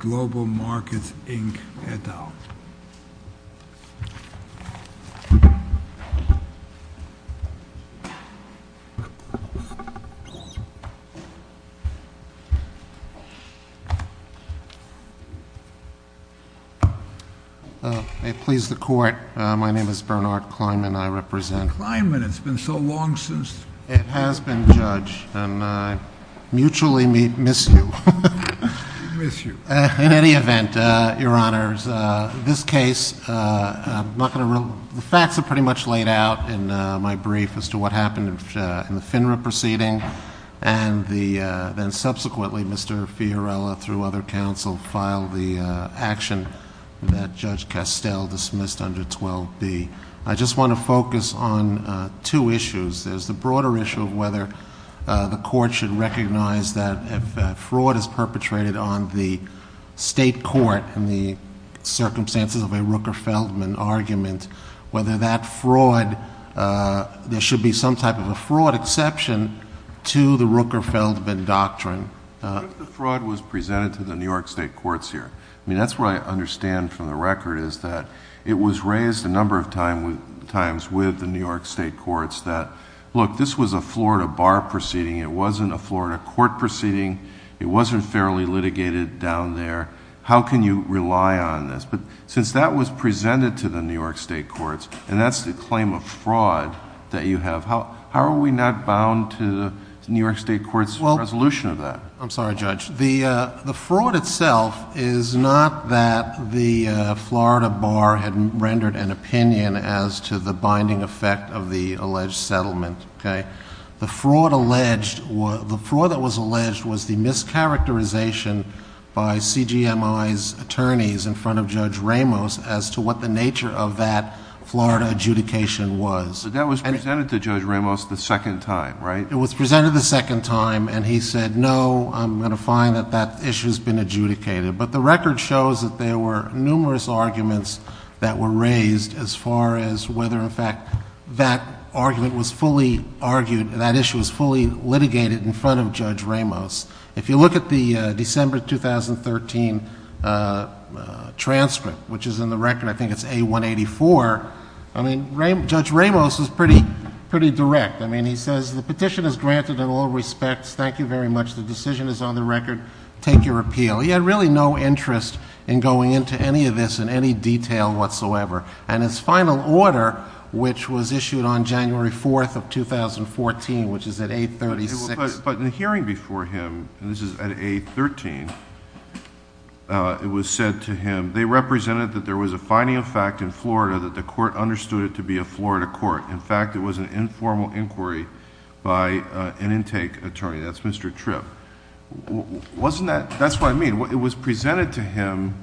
Markets, Inc. et al. I please the Court. My name is Bernard Kleinman, and I represent— Mr. Kleinman, it's been so long since— It has been, Judge, and I mutually miss you. Miss you. In any event, Your Honors, this case, I'm not going to—the facts are pretty much laid out in my brief as to what happened in the FINRA proceeding. And then subsequently, Mr. Fiorilla, through other counsel, filed the action that Judge Castel dismissed under 12b. I just want to focus on two issues. There's the broader issue of whether the Court should recognize that if fraud is perpetrated on the state court in the circumstances of a Rooker-Feldman argument, whether that fraud—there should be some type of a fraud exception to the Rooker-Feldman doctrine. What if the fraud was presented to the New York state courts here? I mean, that's what I understand from the record is that it was raised a number of times with the New York state courts that, look, this was a Florida bar proceeding. It wasn't a Florida court proceeding. It wasn't fairly litigated down there. How can you rely on this? But since that was presented to the New York state courts, and that's the claim of fraud that you have, how are we not bound to the New York state court's resolution of that? I'm sorry, Judge. The fraud itself is not that the Florida bar had rendered an opinion as to the binding effect of the alleged settlement, okay? The fraud that was alleged was the mischaracterization by CGMI's attorneys in front of Judge Ramos as to what the nature of that Florida adjudication was. But that was presented to Judge Ramos the second time, right? It was presented the second time, and he said, no, I'm going to find that that issue has been adjudicated. But the record shows that there were numerous arguments that were raised as far as whether, in fact, that argument was fully argued, that issue was fully litigated in front of Judge Ramos. If you look at the December 2013 transcript, which is in the record, I think it's A184, I mean, Judge Ramos is pretty direct. I mean, he says, the petition is granted in all respects. Thank you very much. The decision is on the record. Take your appeal. He had really no interest in going into any of this in any detail whatsoever. And his final order, which was issued on January 4th of 2014, which is at A36. But in the hearing before him, and this is at A13, it was said to him, they represented that there was a finding of fact in Florida that the court understood it to be a Florida court. In fact, it was an informal inquiry by an intake attorney. That's Mr. Tripp. That's what I mean. It was presented to him,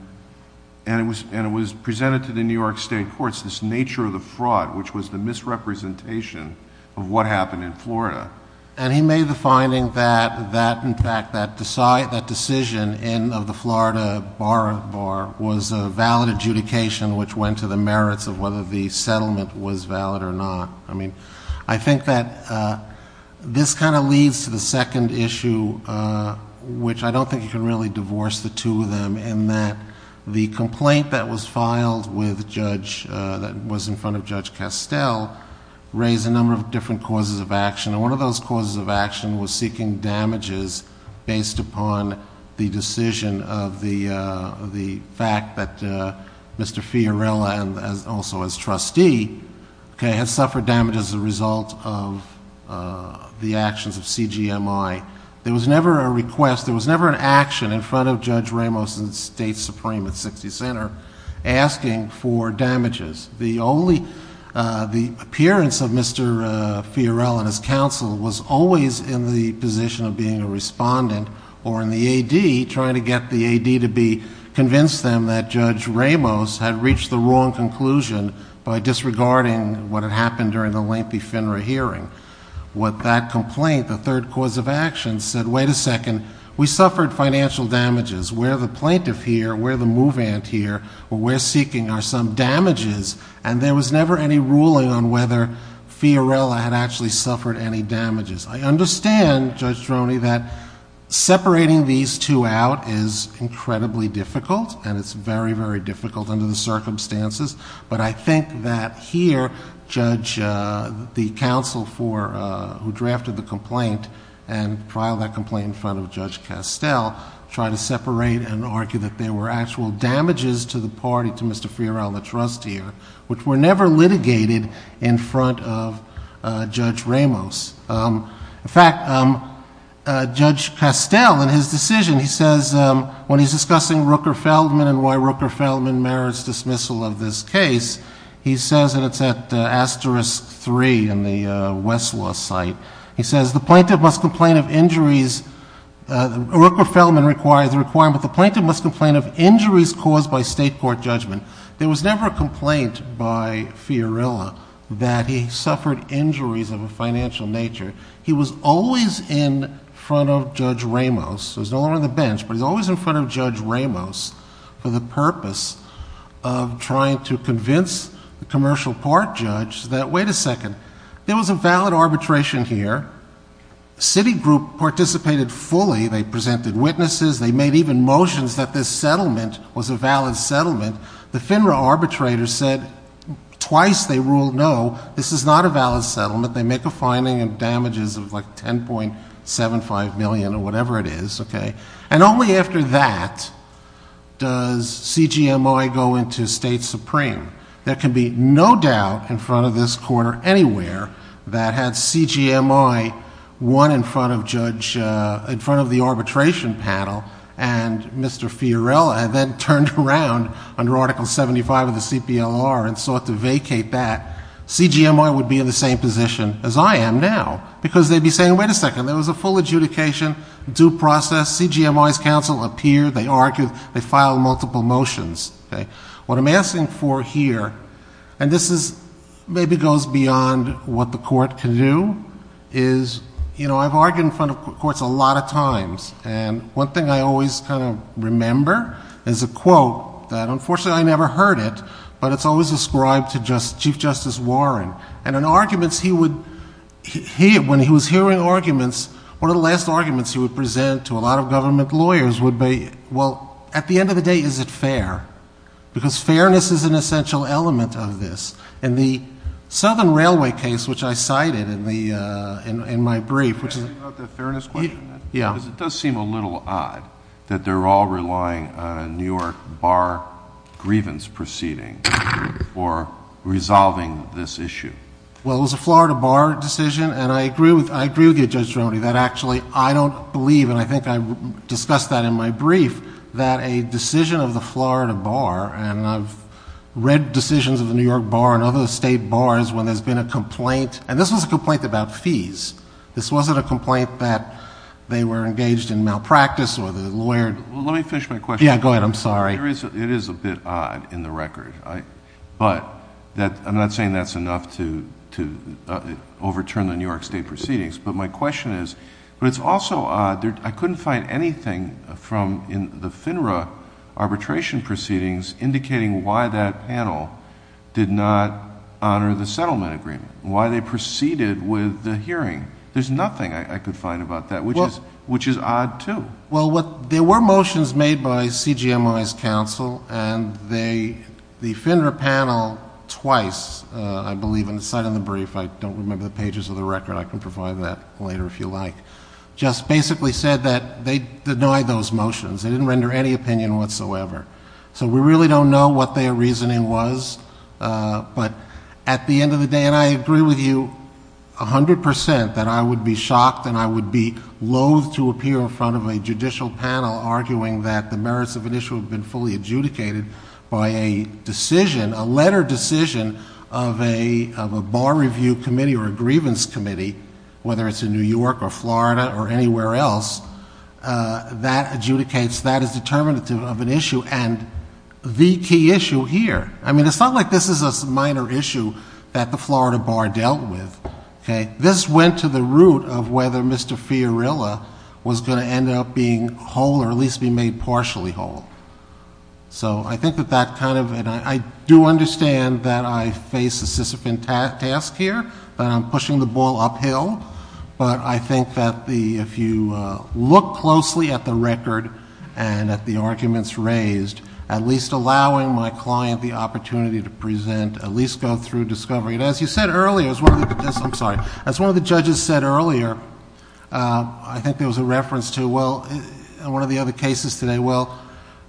and it was presented to the New York State Courts, this nature of the fraud, which was the misrepresentation of what happened in Florida. And he made the finding that, in fact, that decision of the Florida bar was a valid adjudication, which went to the merits of whether the settlement was valid or not. I mean, I think that this kind of leads to the second issue, which I don't think you can really divorce the two of them, in that the complaint that was filed with Judge, that was in front of Judge Castell, raised a number of different causes of action. And one of those causes of action was seeking damages based upon the decision of the fact that Mr. Fiorella, and also as trustee, had suffered damage as a result of the actions of CGMI. There was never a request, there was never an action in front of Judge Ramos and the State Supreme at 60th Center asking for damages. The appearance of Mr. Fiorella and his counsel was always in the position of being a respondent, or in the AD, trying to get the AD to convince them that Judge Ramos had reached the wrong conclusion by disregarding what had happened during the lengthy FINRA hearing. What that complaint, the third cause of action, said, wait a second, we suffered financial damages. We're the plaintiff here, we're the move-ant here, we're seeking our sum damages. And there was never any ruling on whether Fiorella had actually suffered any damages. I understand, Judge Droney, that separating these two out is incredibly difficult, and it's very, very difficult under the circumstances. But I think that here, Judge, the counsel for, who drafted the complaint, and filed that complaint in front of Judge Castell, tried to separate and argue that there were actual damages to the party, to Mr. Fiorella, the trustee, which were never litigated in front of Judge Ramos. In fact, Judge Castell, in his decision, he says, when he's discussing Rooker-Feldman and why Rooker-Feldman merits dismissal of this case, he says, and it's at asterisk three in the Westlaw site, he says, the plaintiff must complain of injuries, Rooker-Feldman requires the requirement, the plaintiff must complain of injuries caused by state court judgment. There was never a complaint by Fiorella that he suffered injuries of a financial nature. He was always in front of Judge Ramos. He was no longer on the bench, but he was always in front of Judge Ramos for the purpose of trying to convince the commercial court judge that, wait a second, there was a valid arbitration here, city group participated fully, they presented witnesses, they made even motions that this settlement was a valid settlement. The FINRA arbitrator said twice they ruled no, this is not a valid settlement, they make a finding of damages of like $10.75 million or whatever it is. And only after that does CGMI go into State Supreme. There can be no doubt in front of this court or anywhere that had CGMI won in front of the arbitration panel and Mr. Fiorella then turned around under Article 75 of the CPLR and sought to vacate that, CGMI would be in the same position as I am now because they'd be saying, wait a second, there was a full adjudication, due process, CGMI's counsel appeared, they argued, they filed multiple motions. What I'm asking for here, and this maybe goes beyond what the court can do, is I've argued in front of courts a lot of times and one thing I always kind of remember is a quote that unfortunately I never heard it, but it's always ascribed to Chief Justice Warren, and in arguments he would, when he was hearing arguments, one of the last arguments he would present to a lot of government lawyers would be, well, at the end of the day, is it fair? Because fairness is an essential element of this. In the Southern Railway case, which I cited in my brief. Can I ask you about the fairness question? Yeah. Because it does seem a little odd that they're all relying on a New York bar grievance proceeding for resolving this issue. Well, it was a Florida bar decision, and I agree with you, Judge Geronimo, that actually I don't believe, and I think I discussed that in my brief, that a decision of the Florida bar, and I've read decisions of the New York bar and other state bars when there's been a complaint, and this was a complaint about fees. This wasn't a complaint that they were engaged in malpractice or the lawyer... Well, let me finish my question. Yeah, go ahead. I'm sorry. It is a bit odd in the record, but I'm not saying that's enough to overturn the New York state proceedings, but my question is, but it's also odd. I couldn't find anything from the FINRA arbitration proceedings indicating why that panel did not honor the settlement agreement, why they proceeded with the hearing. There's nothing I could find about that, which is odd, too. Well, there were motions made by CGMI's counsel, and the FINRA panel twice, I believe, and it's not in the brief, I don't remember the pages of the record, I can provide that later if you like, just basically said that they denied those motions. They didn't render any opinion whatsoever. So, we really don't know what their reasoning was, but at the end of the day, and I agree with you 100% that I would be shocked and I would be loathe to appear in front of a judicial panel arguing that the merits of an issue have been fully adjudicated by a decision, a letter decision of a bar review committee or a grievance committee, whether it's in New York or Florida or anywhere else, that adjudicates, that is determinative of an issue, and the key issue here. I mean, it's not like this is a minor issue that the Florida bar dealt with, okay? This went to the root of whether Mr. Fiorilla was going to end up being whole or at least be made partially whole. So, I think that that kind of, and I do understand that I face a sisyphant task here, that I'm pushing the ball uphill, but I think that if you look closely at the record and at the arguments raised, at least allowing my client the opportunity to present, at least go through discovery, and as you said earlier, I'm sorry, as one of the judges said earlier, I think there was a reference to one of the other cases today, well,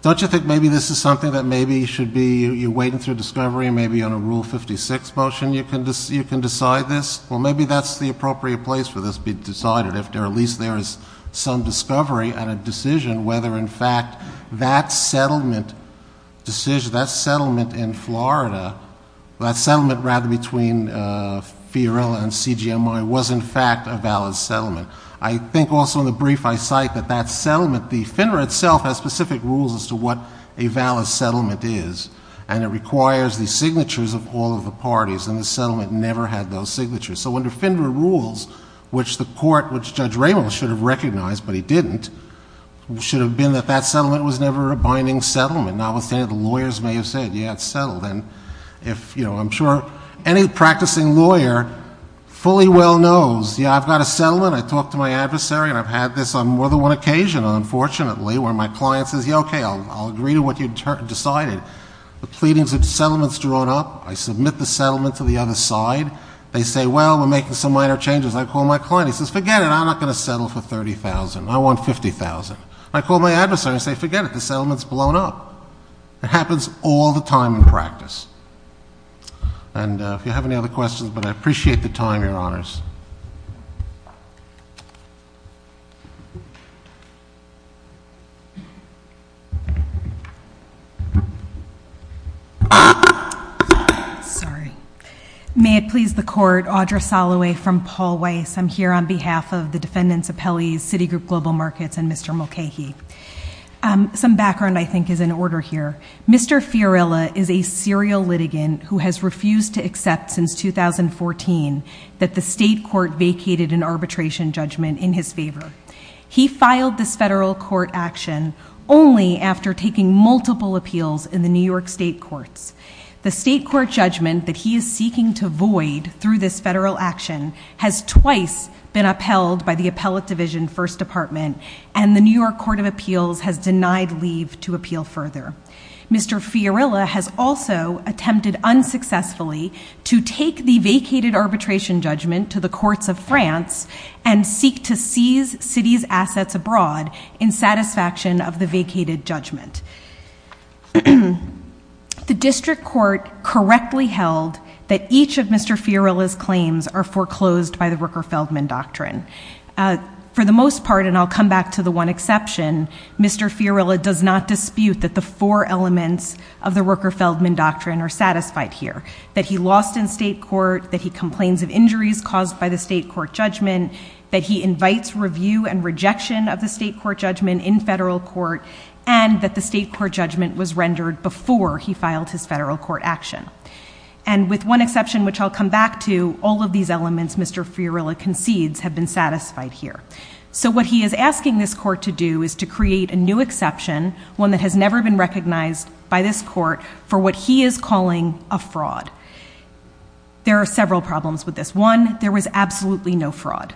don't you think maybe this is something that maybe should be, you're waiting through discovery, maybe on a Rule 56 motion you can decide this? Well, maybe that's the appropriate place for this to be decided, if at least there is some discovery and a decision whether in fact that settlement decision, that settlement in Florida, that settlement rather between Fiorilla and CGMI was in fact a valid settlement. I think also in the brief I cite that that settlement, the FINRA itself has specific rules as to what a valid settlement is, and it requires the signatures of all of the parties, and the settlement never had those signatures. So under FINRA rules, which the court, which Judge Ramos should have recognized, but he didn't, it should have been that that settlement was never a binding settlement, notwithstanding the lawyers may have said, yeah, it's settled. And if, you know, I'm sure any practicing lawyer fully well knows, yeah, I've got a settlement, I talked to my adversary, and I've had this on more than one occasion, unfortunately, where my client says, yeah, okay, I'll agree to what you decided. The pleadings of the settlement's drawn up, I submit the settlement to the other side, they say, well, we're making some minor changes, I call my client, he says, forget it, I'm not going to settle for $30,000, I want $50,000. I call my adversary and say, forget it, the settlement's blown up. It happens all the time in practice. And if you have any other questions, but I appreciate the time, Your Honors. Thank you very much. Sorry. May it please the Court, Audra Soloway from Paul Weiss. I'm here on behalf of the defendants' appellees, Citigroup Global Markets and Mr. Mulcahy. Some background, I think, is in order here. Mr. Fiorella is a serial litigant who has refused to accept since 2014 that the state court vacated an arbitration judgment in his favor. He filed this federal court action only after taking multiple appeals in the New York state courts. The state court judgment that he is seeking to void through this federal action has twice been upheld by the Appellate Division First Department, and the New York Court of Appeals has denied leave to appeal further. Mr. Fiorella has also attempted unsuccessfully to take the vacated arbitration judgment to the courts of France and seek to seize cities' assets abroad in satisfaction of the vacated judgment. The district court correctly held that each of Mr. Fiorella's claims are foreclosed by the Rooker-Feldman Doctrine. For the most part, and I'll come back to the one exception, Mr. Fiorella does not dispute that the four elements of the Rooker-Feldman Doctrine are satisfied here, that he lost in state court, that he complains of injuries caused by the state court judgment, that he invites review and rejection of the state court judgment in federal court, and that the state court judgment was rendered before he filed his federal court action. And with one exception, which I'll come back to, all of these elements Mr. Fiorella concedes have been satisfied here. So what he is asking this court to do is to create a new exception, one that has never been recognized by this court, for what he is calling a fraud. There are several problems with this. One, there was absolutely no fraud.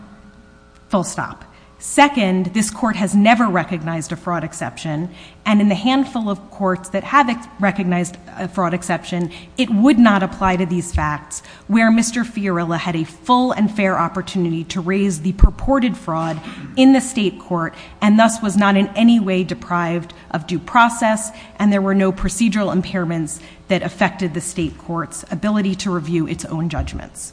Full stop. Second, this court has never recognized a fraud exception, and in the handful of courts that have recognized a fraud exception, it would not apply to these facts where Mr. Fiorella had a full and fair opportunity to raise the purported fraud in the state court and thus was not in any way deprived of due process and there were no procedural impairments that affected the state court's ability to review its own judgments.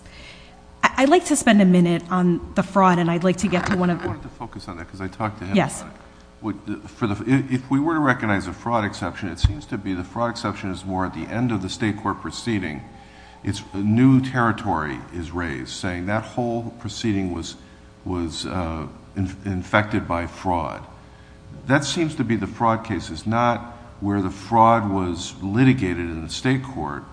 I'd like to spend a minute on the fraud and I'd like to get to one of... I'd like to focus on that because I talked to him about it. Yes. If we were to recognize a fraud exception, it seems to be the fraud exception is more at the end of the state court proceeding. A new territory is raised saying that whole proceeding was infected by fraud. That seems to be the fraud case. It's not where the fraud was litigated in the state court.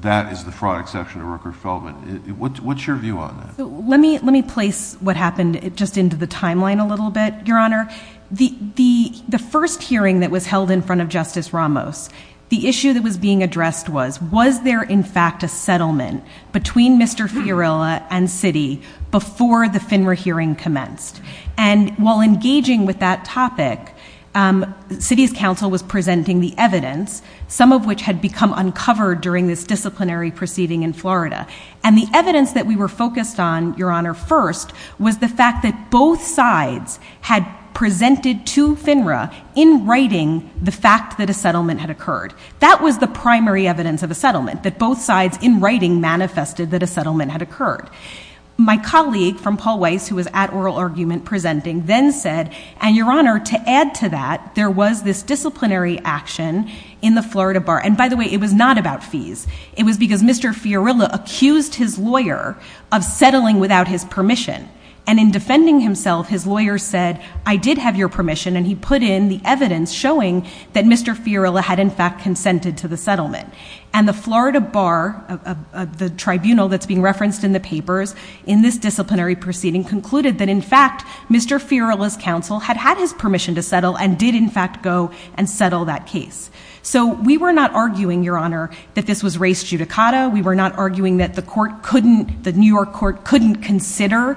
That is the fraud exception to Rooker-Feldman. What's your view on that? Let me place what happened just into the timeline a little bit, Your Honor. The first hearing that was held in front of Justice Ramos, the issue that was being addressed was, was there in fact a settlement between Mr. Fiorella and Citi before the FINRA hearing commenced? And while engaging with that topic, Citi's counsel was presenting the evidence, some of which had become uncovered during this disciplinary proceeding in Florida. And the evidence that we were focused on, Your Honor, first, was the fact that both sides had presented to FINRA in writing the fact that a settlement had occurred. That was the primary evidence of a settlement, that both sides in writing manifested that a settlement had occurred. My colleague from Paul Weiss, who was at oral argument presenting, then said, and Your Honor, to add to that, there was this disciplinary action in the Florida Bar. And by the way, it was not about fees. It was because Mr. Fiorella accused his lawyer of settling without his permission. And in defending himself, his lawyer said, I did have your permission, and he put in the evidence showing that Mr. Fiorella had in fact consented to the settlement. And the Florida Bar, the tribunal that's being referenced in the papers, in this disciplinary proceeding concluded that, in fact, Mr. Fiorella's counsel had had his permission to settle and did in fact go and settle that case. So we were not arguing, Your Honor, that this was race judicata. We were not arguing that the court couldn't, the New York court couldn't consider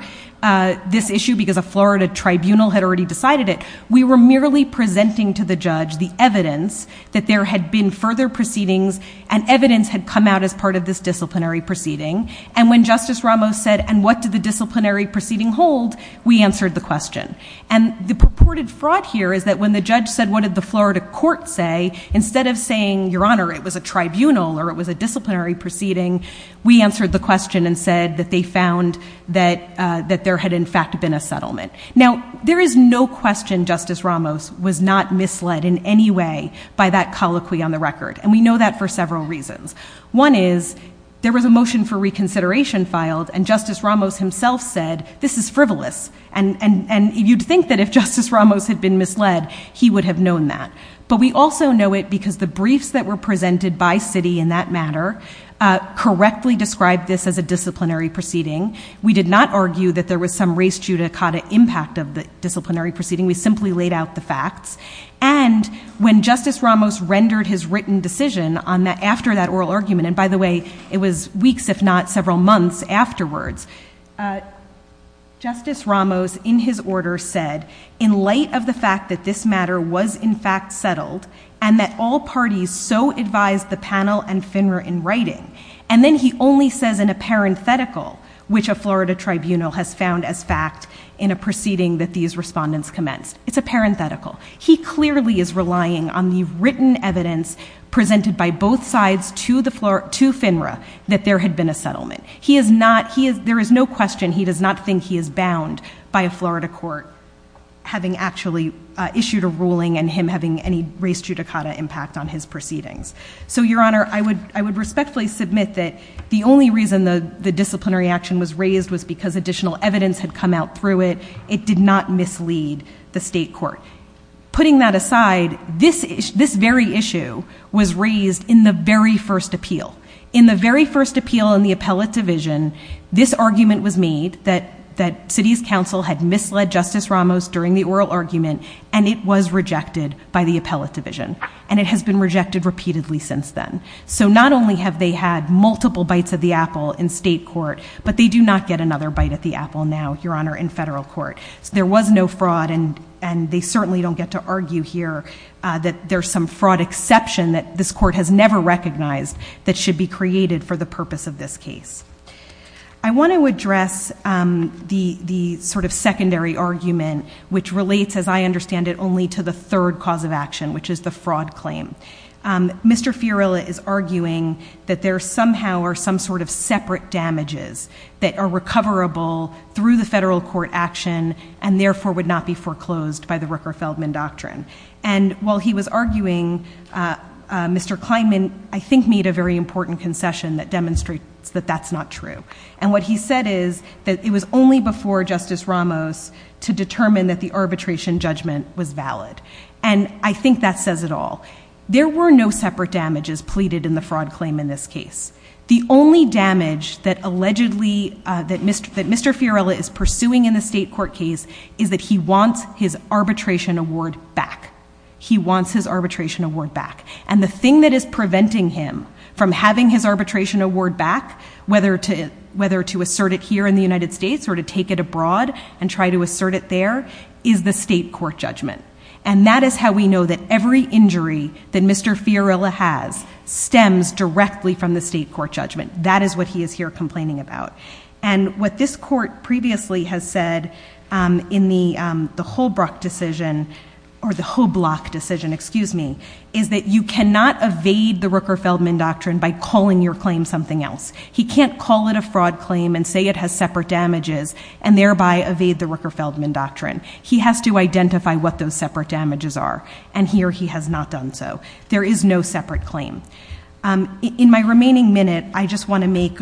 this issue because a Florida tribunal had already decided it. We were merely presenting to the judge the evidence that there had been further proceedings and evidence had come out as part of this disciplinary proceeding. And when Justice Ramos said, and what did the disciplinary proceeding hold, we answered the question. And the purported fraud here is that when the judge said, what did the Florida court say, instead of saying, Your Honor, it was a tribunal or it was a disciplinary proceeding, we answered the question and said that they found that there had in fact been a settlement. Now, there is no question Justice Ramos was not misled in any way by that colloquy on the record. And we know that for several reasons. One is there was a motion for reconsideration filed, and Justice Ramos himself said, this is frivolous. And you'd think that if Justice Ramos had been misled, he would have known that. But we also know it because the briefs that were presented by Citi in that matter correctly described this as a disciplinary proceeding. We did not argue that there was some race judicata impact of the disciplinary proceeding. We simply laid out the facts. And when Justice Ramos rendered his written decision after that oral argument, and by the way, it was weeks if not several months afterwards, Justice Ramos in his order said, in light of the fact that this matter was in fact settled and that all parties so advised the panel and FINRA in writing, and then he only says in a parenthetical, which a Florida tribunal has found as fact in a proceeding that these respondents commenced. It's a parenthetical. He clearly is relying on the written evidence presented by both sides to FINRA that there had been a settlement. There is no question he does not think he is bound by a Florida court having actually issued a ruling and him having any race judicata impact on his proceedings. So, Your Honor, I would respectfully submit that the only reason the disciplinary action was raised was because additional evidence had come out through it. It did not mislead the state court. Putting that aside, this very issue was raised in the very first appeal. In the very first appeal in the appellate division, this argument was made that city's council had misled Justice Ramos during the oral argument, and it was rejected by the appellate division. And it has been rejected repeatedly since then. So not only have they had multiple bites of the apple in state court, but they do not get another bite of the apple now, Your Honor, in federal court. So there was no fraud, and they certainly don't get to argue here that there's some fraud exception that this court has never recognized that should be created for the purpose of this case. I want to address the sort of secondary argument, which relates, as I understand it, only to the third cause of action, which is the fraud claim. Mr. Fiorella is arguing that there somehow are some sort of separate damages that are recoverable through the federal court action and therefore would not be foreclosed by the Rooker-Feldman doctrine. And while he was arguing, Mr. Kleinman, I think, made a very important concession that demonstrates that that's not true. And what he said is that it was only before Justice Ramos to determine that the arbitration judgment was valid. And I think that says it all. There were no separate damages pleaded in the fraud claim in this case. The only damage that Mr. Fiorella is pursuing in the state court case is that he wants his arbitration award back. He wants his arbitration award back. And the thing that is preventing him from having his arbitration award back, whether to assert it here in the United States or to take it abroad and try to assert it there, is the state court judgment. And that is how we know that every injury that Mr. Fiorella has stems directly from the state court judgment. That is what he is here complaining about. And what this court previously has said in the Holbrook decision, or the Hoblock decision, excuse me, is that you cannot evade the Rooker-Feldman doctrine by calling your claim something else. He can't call it a fraud claim and say it has separate damages and thereby evade the Rooker-Feldman doctrine. He has to identify what those separate damages are. And here he has not done so. There is no separate claim. In my remaining minute, I just want to make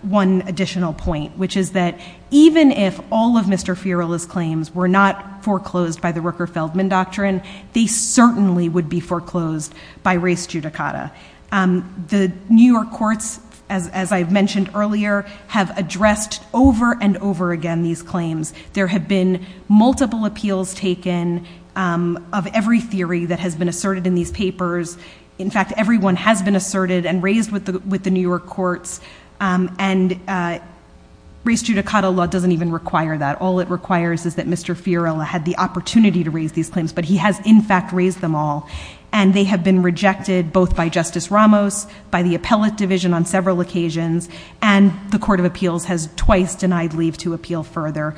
one additional point, which is that even if all of Mr. Fiorella's claims were not foreclosed by the Rooker-Feldman doctrine, they certainly would be foreclosed by race judicata. The New York courts, as I mentioned earlier, have addressed over and over again these claims. There have been multiple appeals taken of every theory that has been asserted in these papers. In fact, every one has been asserted and raised with the New York courts. And race judicata law doesn't even require that. All it requires is that Mr. Fiorella had the opportunity to raise these claims, but he has, in fact, raised them all. And they have been rejected both by Justice Ramos, by the appellate division on several occasions, and the Court of Appeals has twice denied leave to appeal further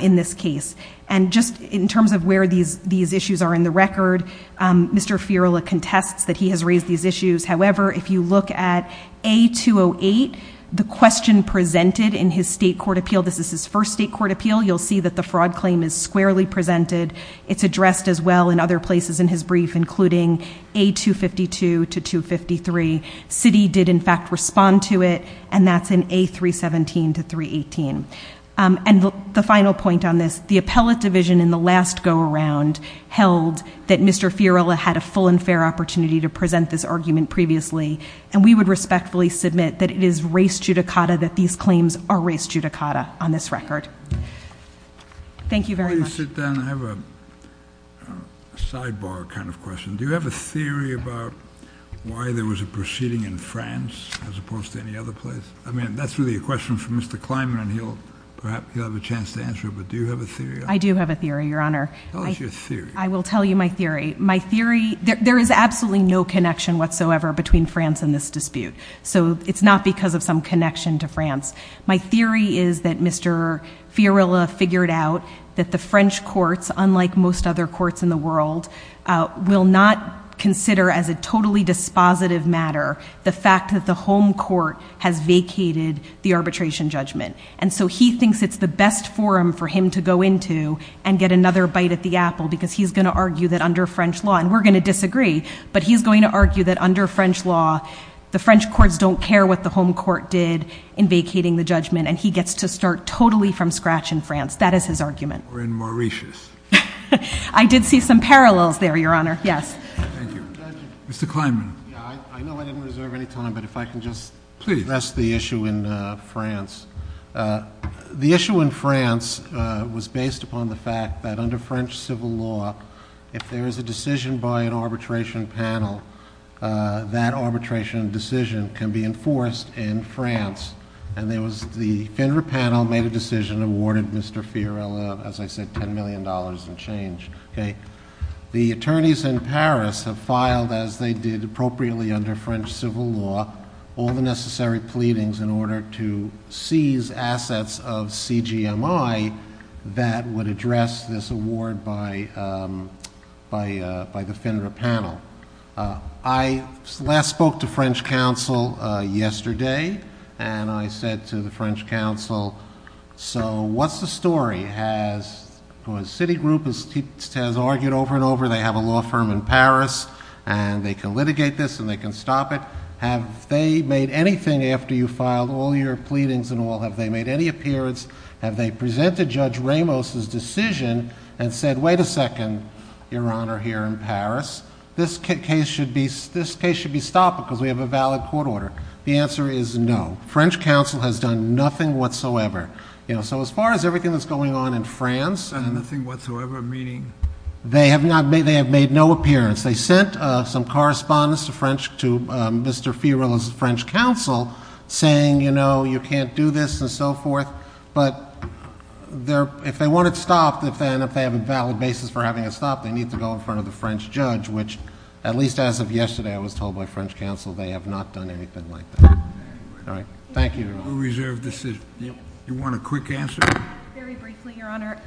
in this case. And just in terms of where these issues are in the record, Mr. Fiorella contests that he has raised these issues. However, if you look at A-208, the question presented in his state court appeal, this is his first state court appeal, you'll see that the fraud claim is squarely presented. It's addressed as well in other places in his brief, including A-252 to 253. Citi did, in fact, respond to it, and that's in A-317 to 318. And the final point on this, the appellate division in the last go-around held that Mr. Fiorella had a full and fair opportunity to present this argument previously, and we would respectfully submit that it is race judicata that these claims are race judicata on this record. Thank you very much. Before you sit down, I have a sidebar kind of question. Do you have a theory about why there was a proceeding in France as opposed to any other place? I mean, that's really a question for Mr. Kleinman, and perhaps he'll have a chance to answer it, but do you have a theory? I do have a theory, Your Honor. Tell us your theory. I will tell you my theory. My theory, there is absolutely no connection whatsoever between France and this dispute, so it's not because of some connection to France. My theory is that Mr. Fiorella figured out that the French courts, unlike most other courts in the world, will not consider as a totally dispositive matter the fact that the home court has vacated the arbitration judgment, and so he thinks it's the best forum for him to go into and get another bite at the apple because he's going to argue that under French law, and we're going to disagree, but he's going to argue that under French law, the French courts don't care what the home court did in vacating the judgment, and he gets to start totally from scratch in France. That is his argument. Or in Mauritius. I did see some parallels there, Your Honor. Yes. Thank you. Mr. Kleinman. Yeah, I know I didn't reserve any time, but if I can just address the issue in France. The issue in France was based upon the fact that under French civil law, if there is a decision by an arbitration panel, that arbitration decision can be enforced in France, and there was the Fenrir panel made a decision and awarded Mr. Fiorello, as I said, $10 million in change. The attorneys in Paris have filed, as they did appropriately under French civil law, all the necessary pleadings in order to seize assets of CGMI that would address this award by the Fenrir panel. I last spoke to French counsel yesterday, and I said to the French counsel, so what's the story? Has Citigroup, as he has argued over and over, they have a law firm in Paris, and they can litigate this and they can stop it. Have they made anything after you filed all your pleadings and all? Have they made any appearance? Have they presented Judge Ramos' decision and said, wait a second, Your Honor, here in Paris, this case should be stopped because we have a valid court order? The answer is no. French counsel has done nothing whatsoever. So as far as everything that's going on in France... Nothing whatsoever, meaning? They have made no appearance. They sent some correspondence to Mr. Fiorello's French counsel saying, you know, you can't do this and so forth, but if they want it stopped, if they have a valid basis for having it stopped, they need to go in front of the French judge, which at least as of yesterday I was told by French counsel they have not done anything like that. All right, thank you. You want a quick answer? Very briefly, Your Honor,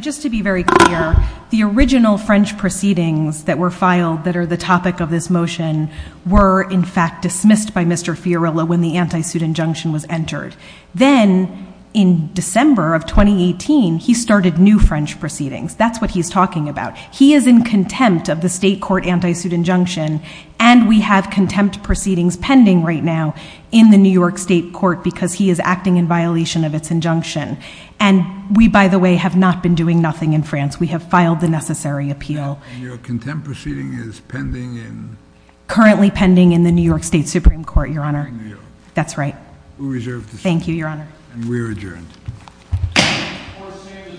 just to be very clear, the original French proceedings that were filed that are the topic of this motion were in fact dismissed by Mr. Fiorello when the anti-suit injunction was entered. Then in December of 2018, he started new French proceedings. That's what he's talking about. He is in contempt of the state court anti-suit injunction, and we have contempt proceedings pending right now in the New York State court because he is acting in violation of its injunction. And we, by the way, have not been doing nothing in France. We have filed the necessary appeal. And your contempt proceeding is pending in... Currently pending in the New York State Supreme Court, Your Honor. In New York. That's right. We reserve the seat. Thank you, Your Honor. And we are adjourned. Court is adjourned.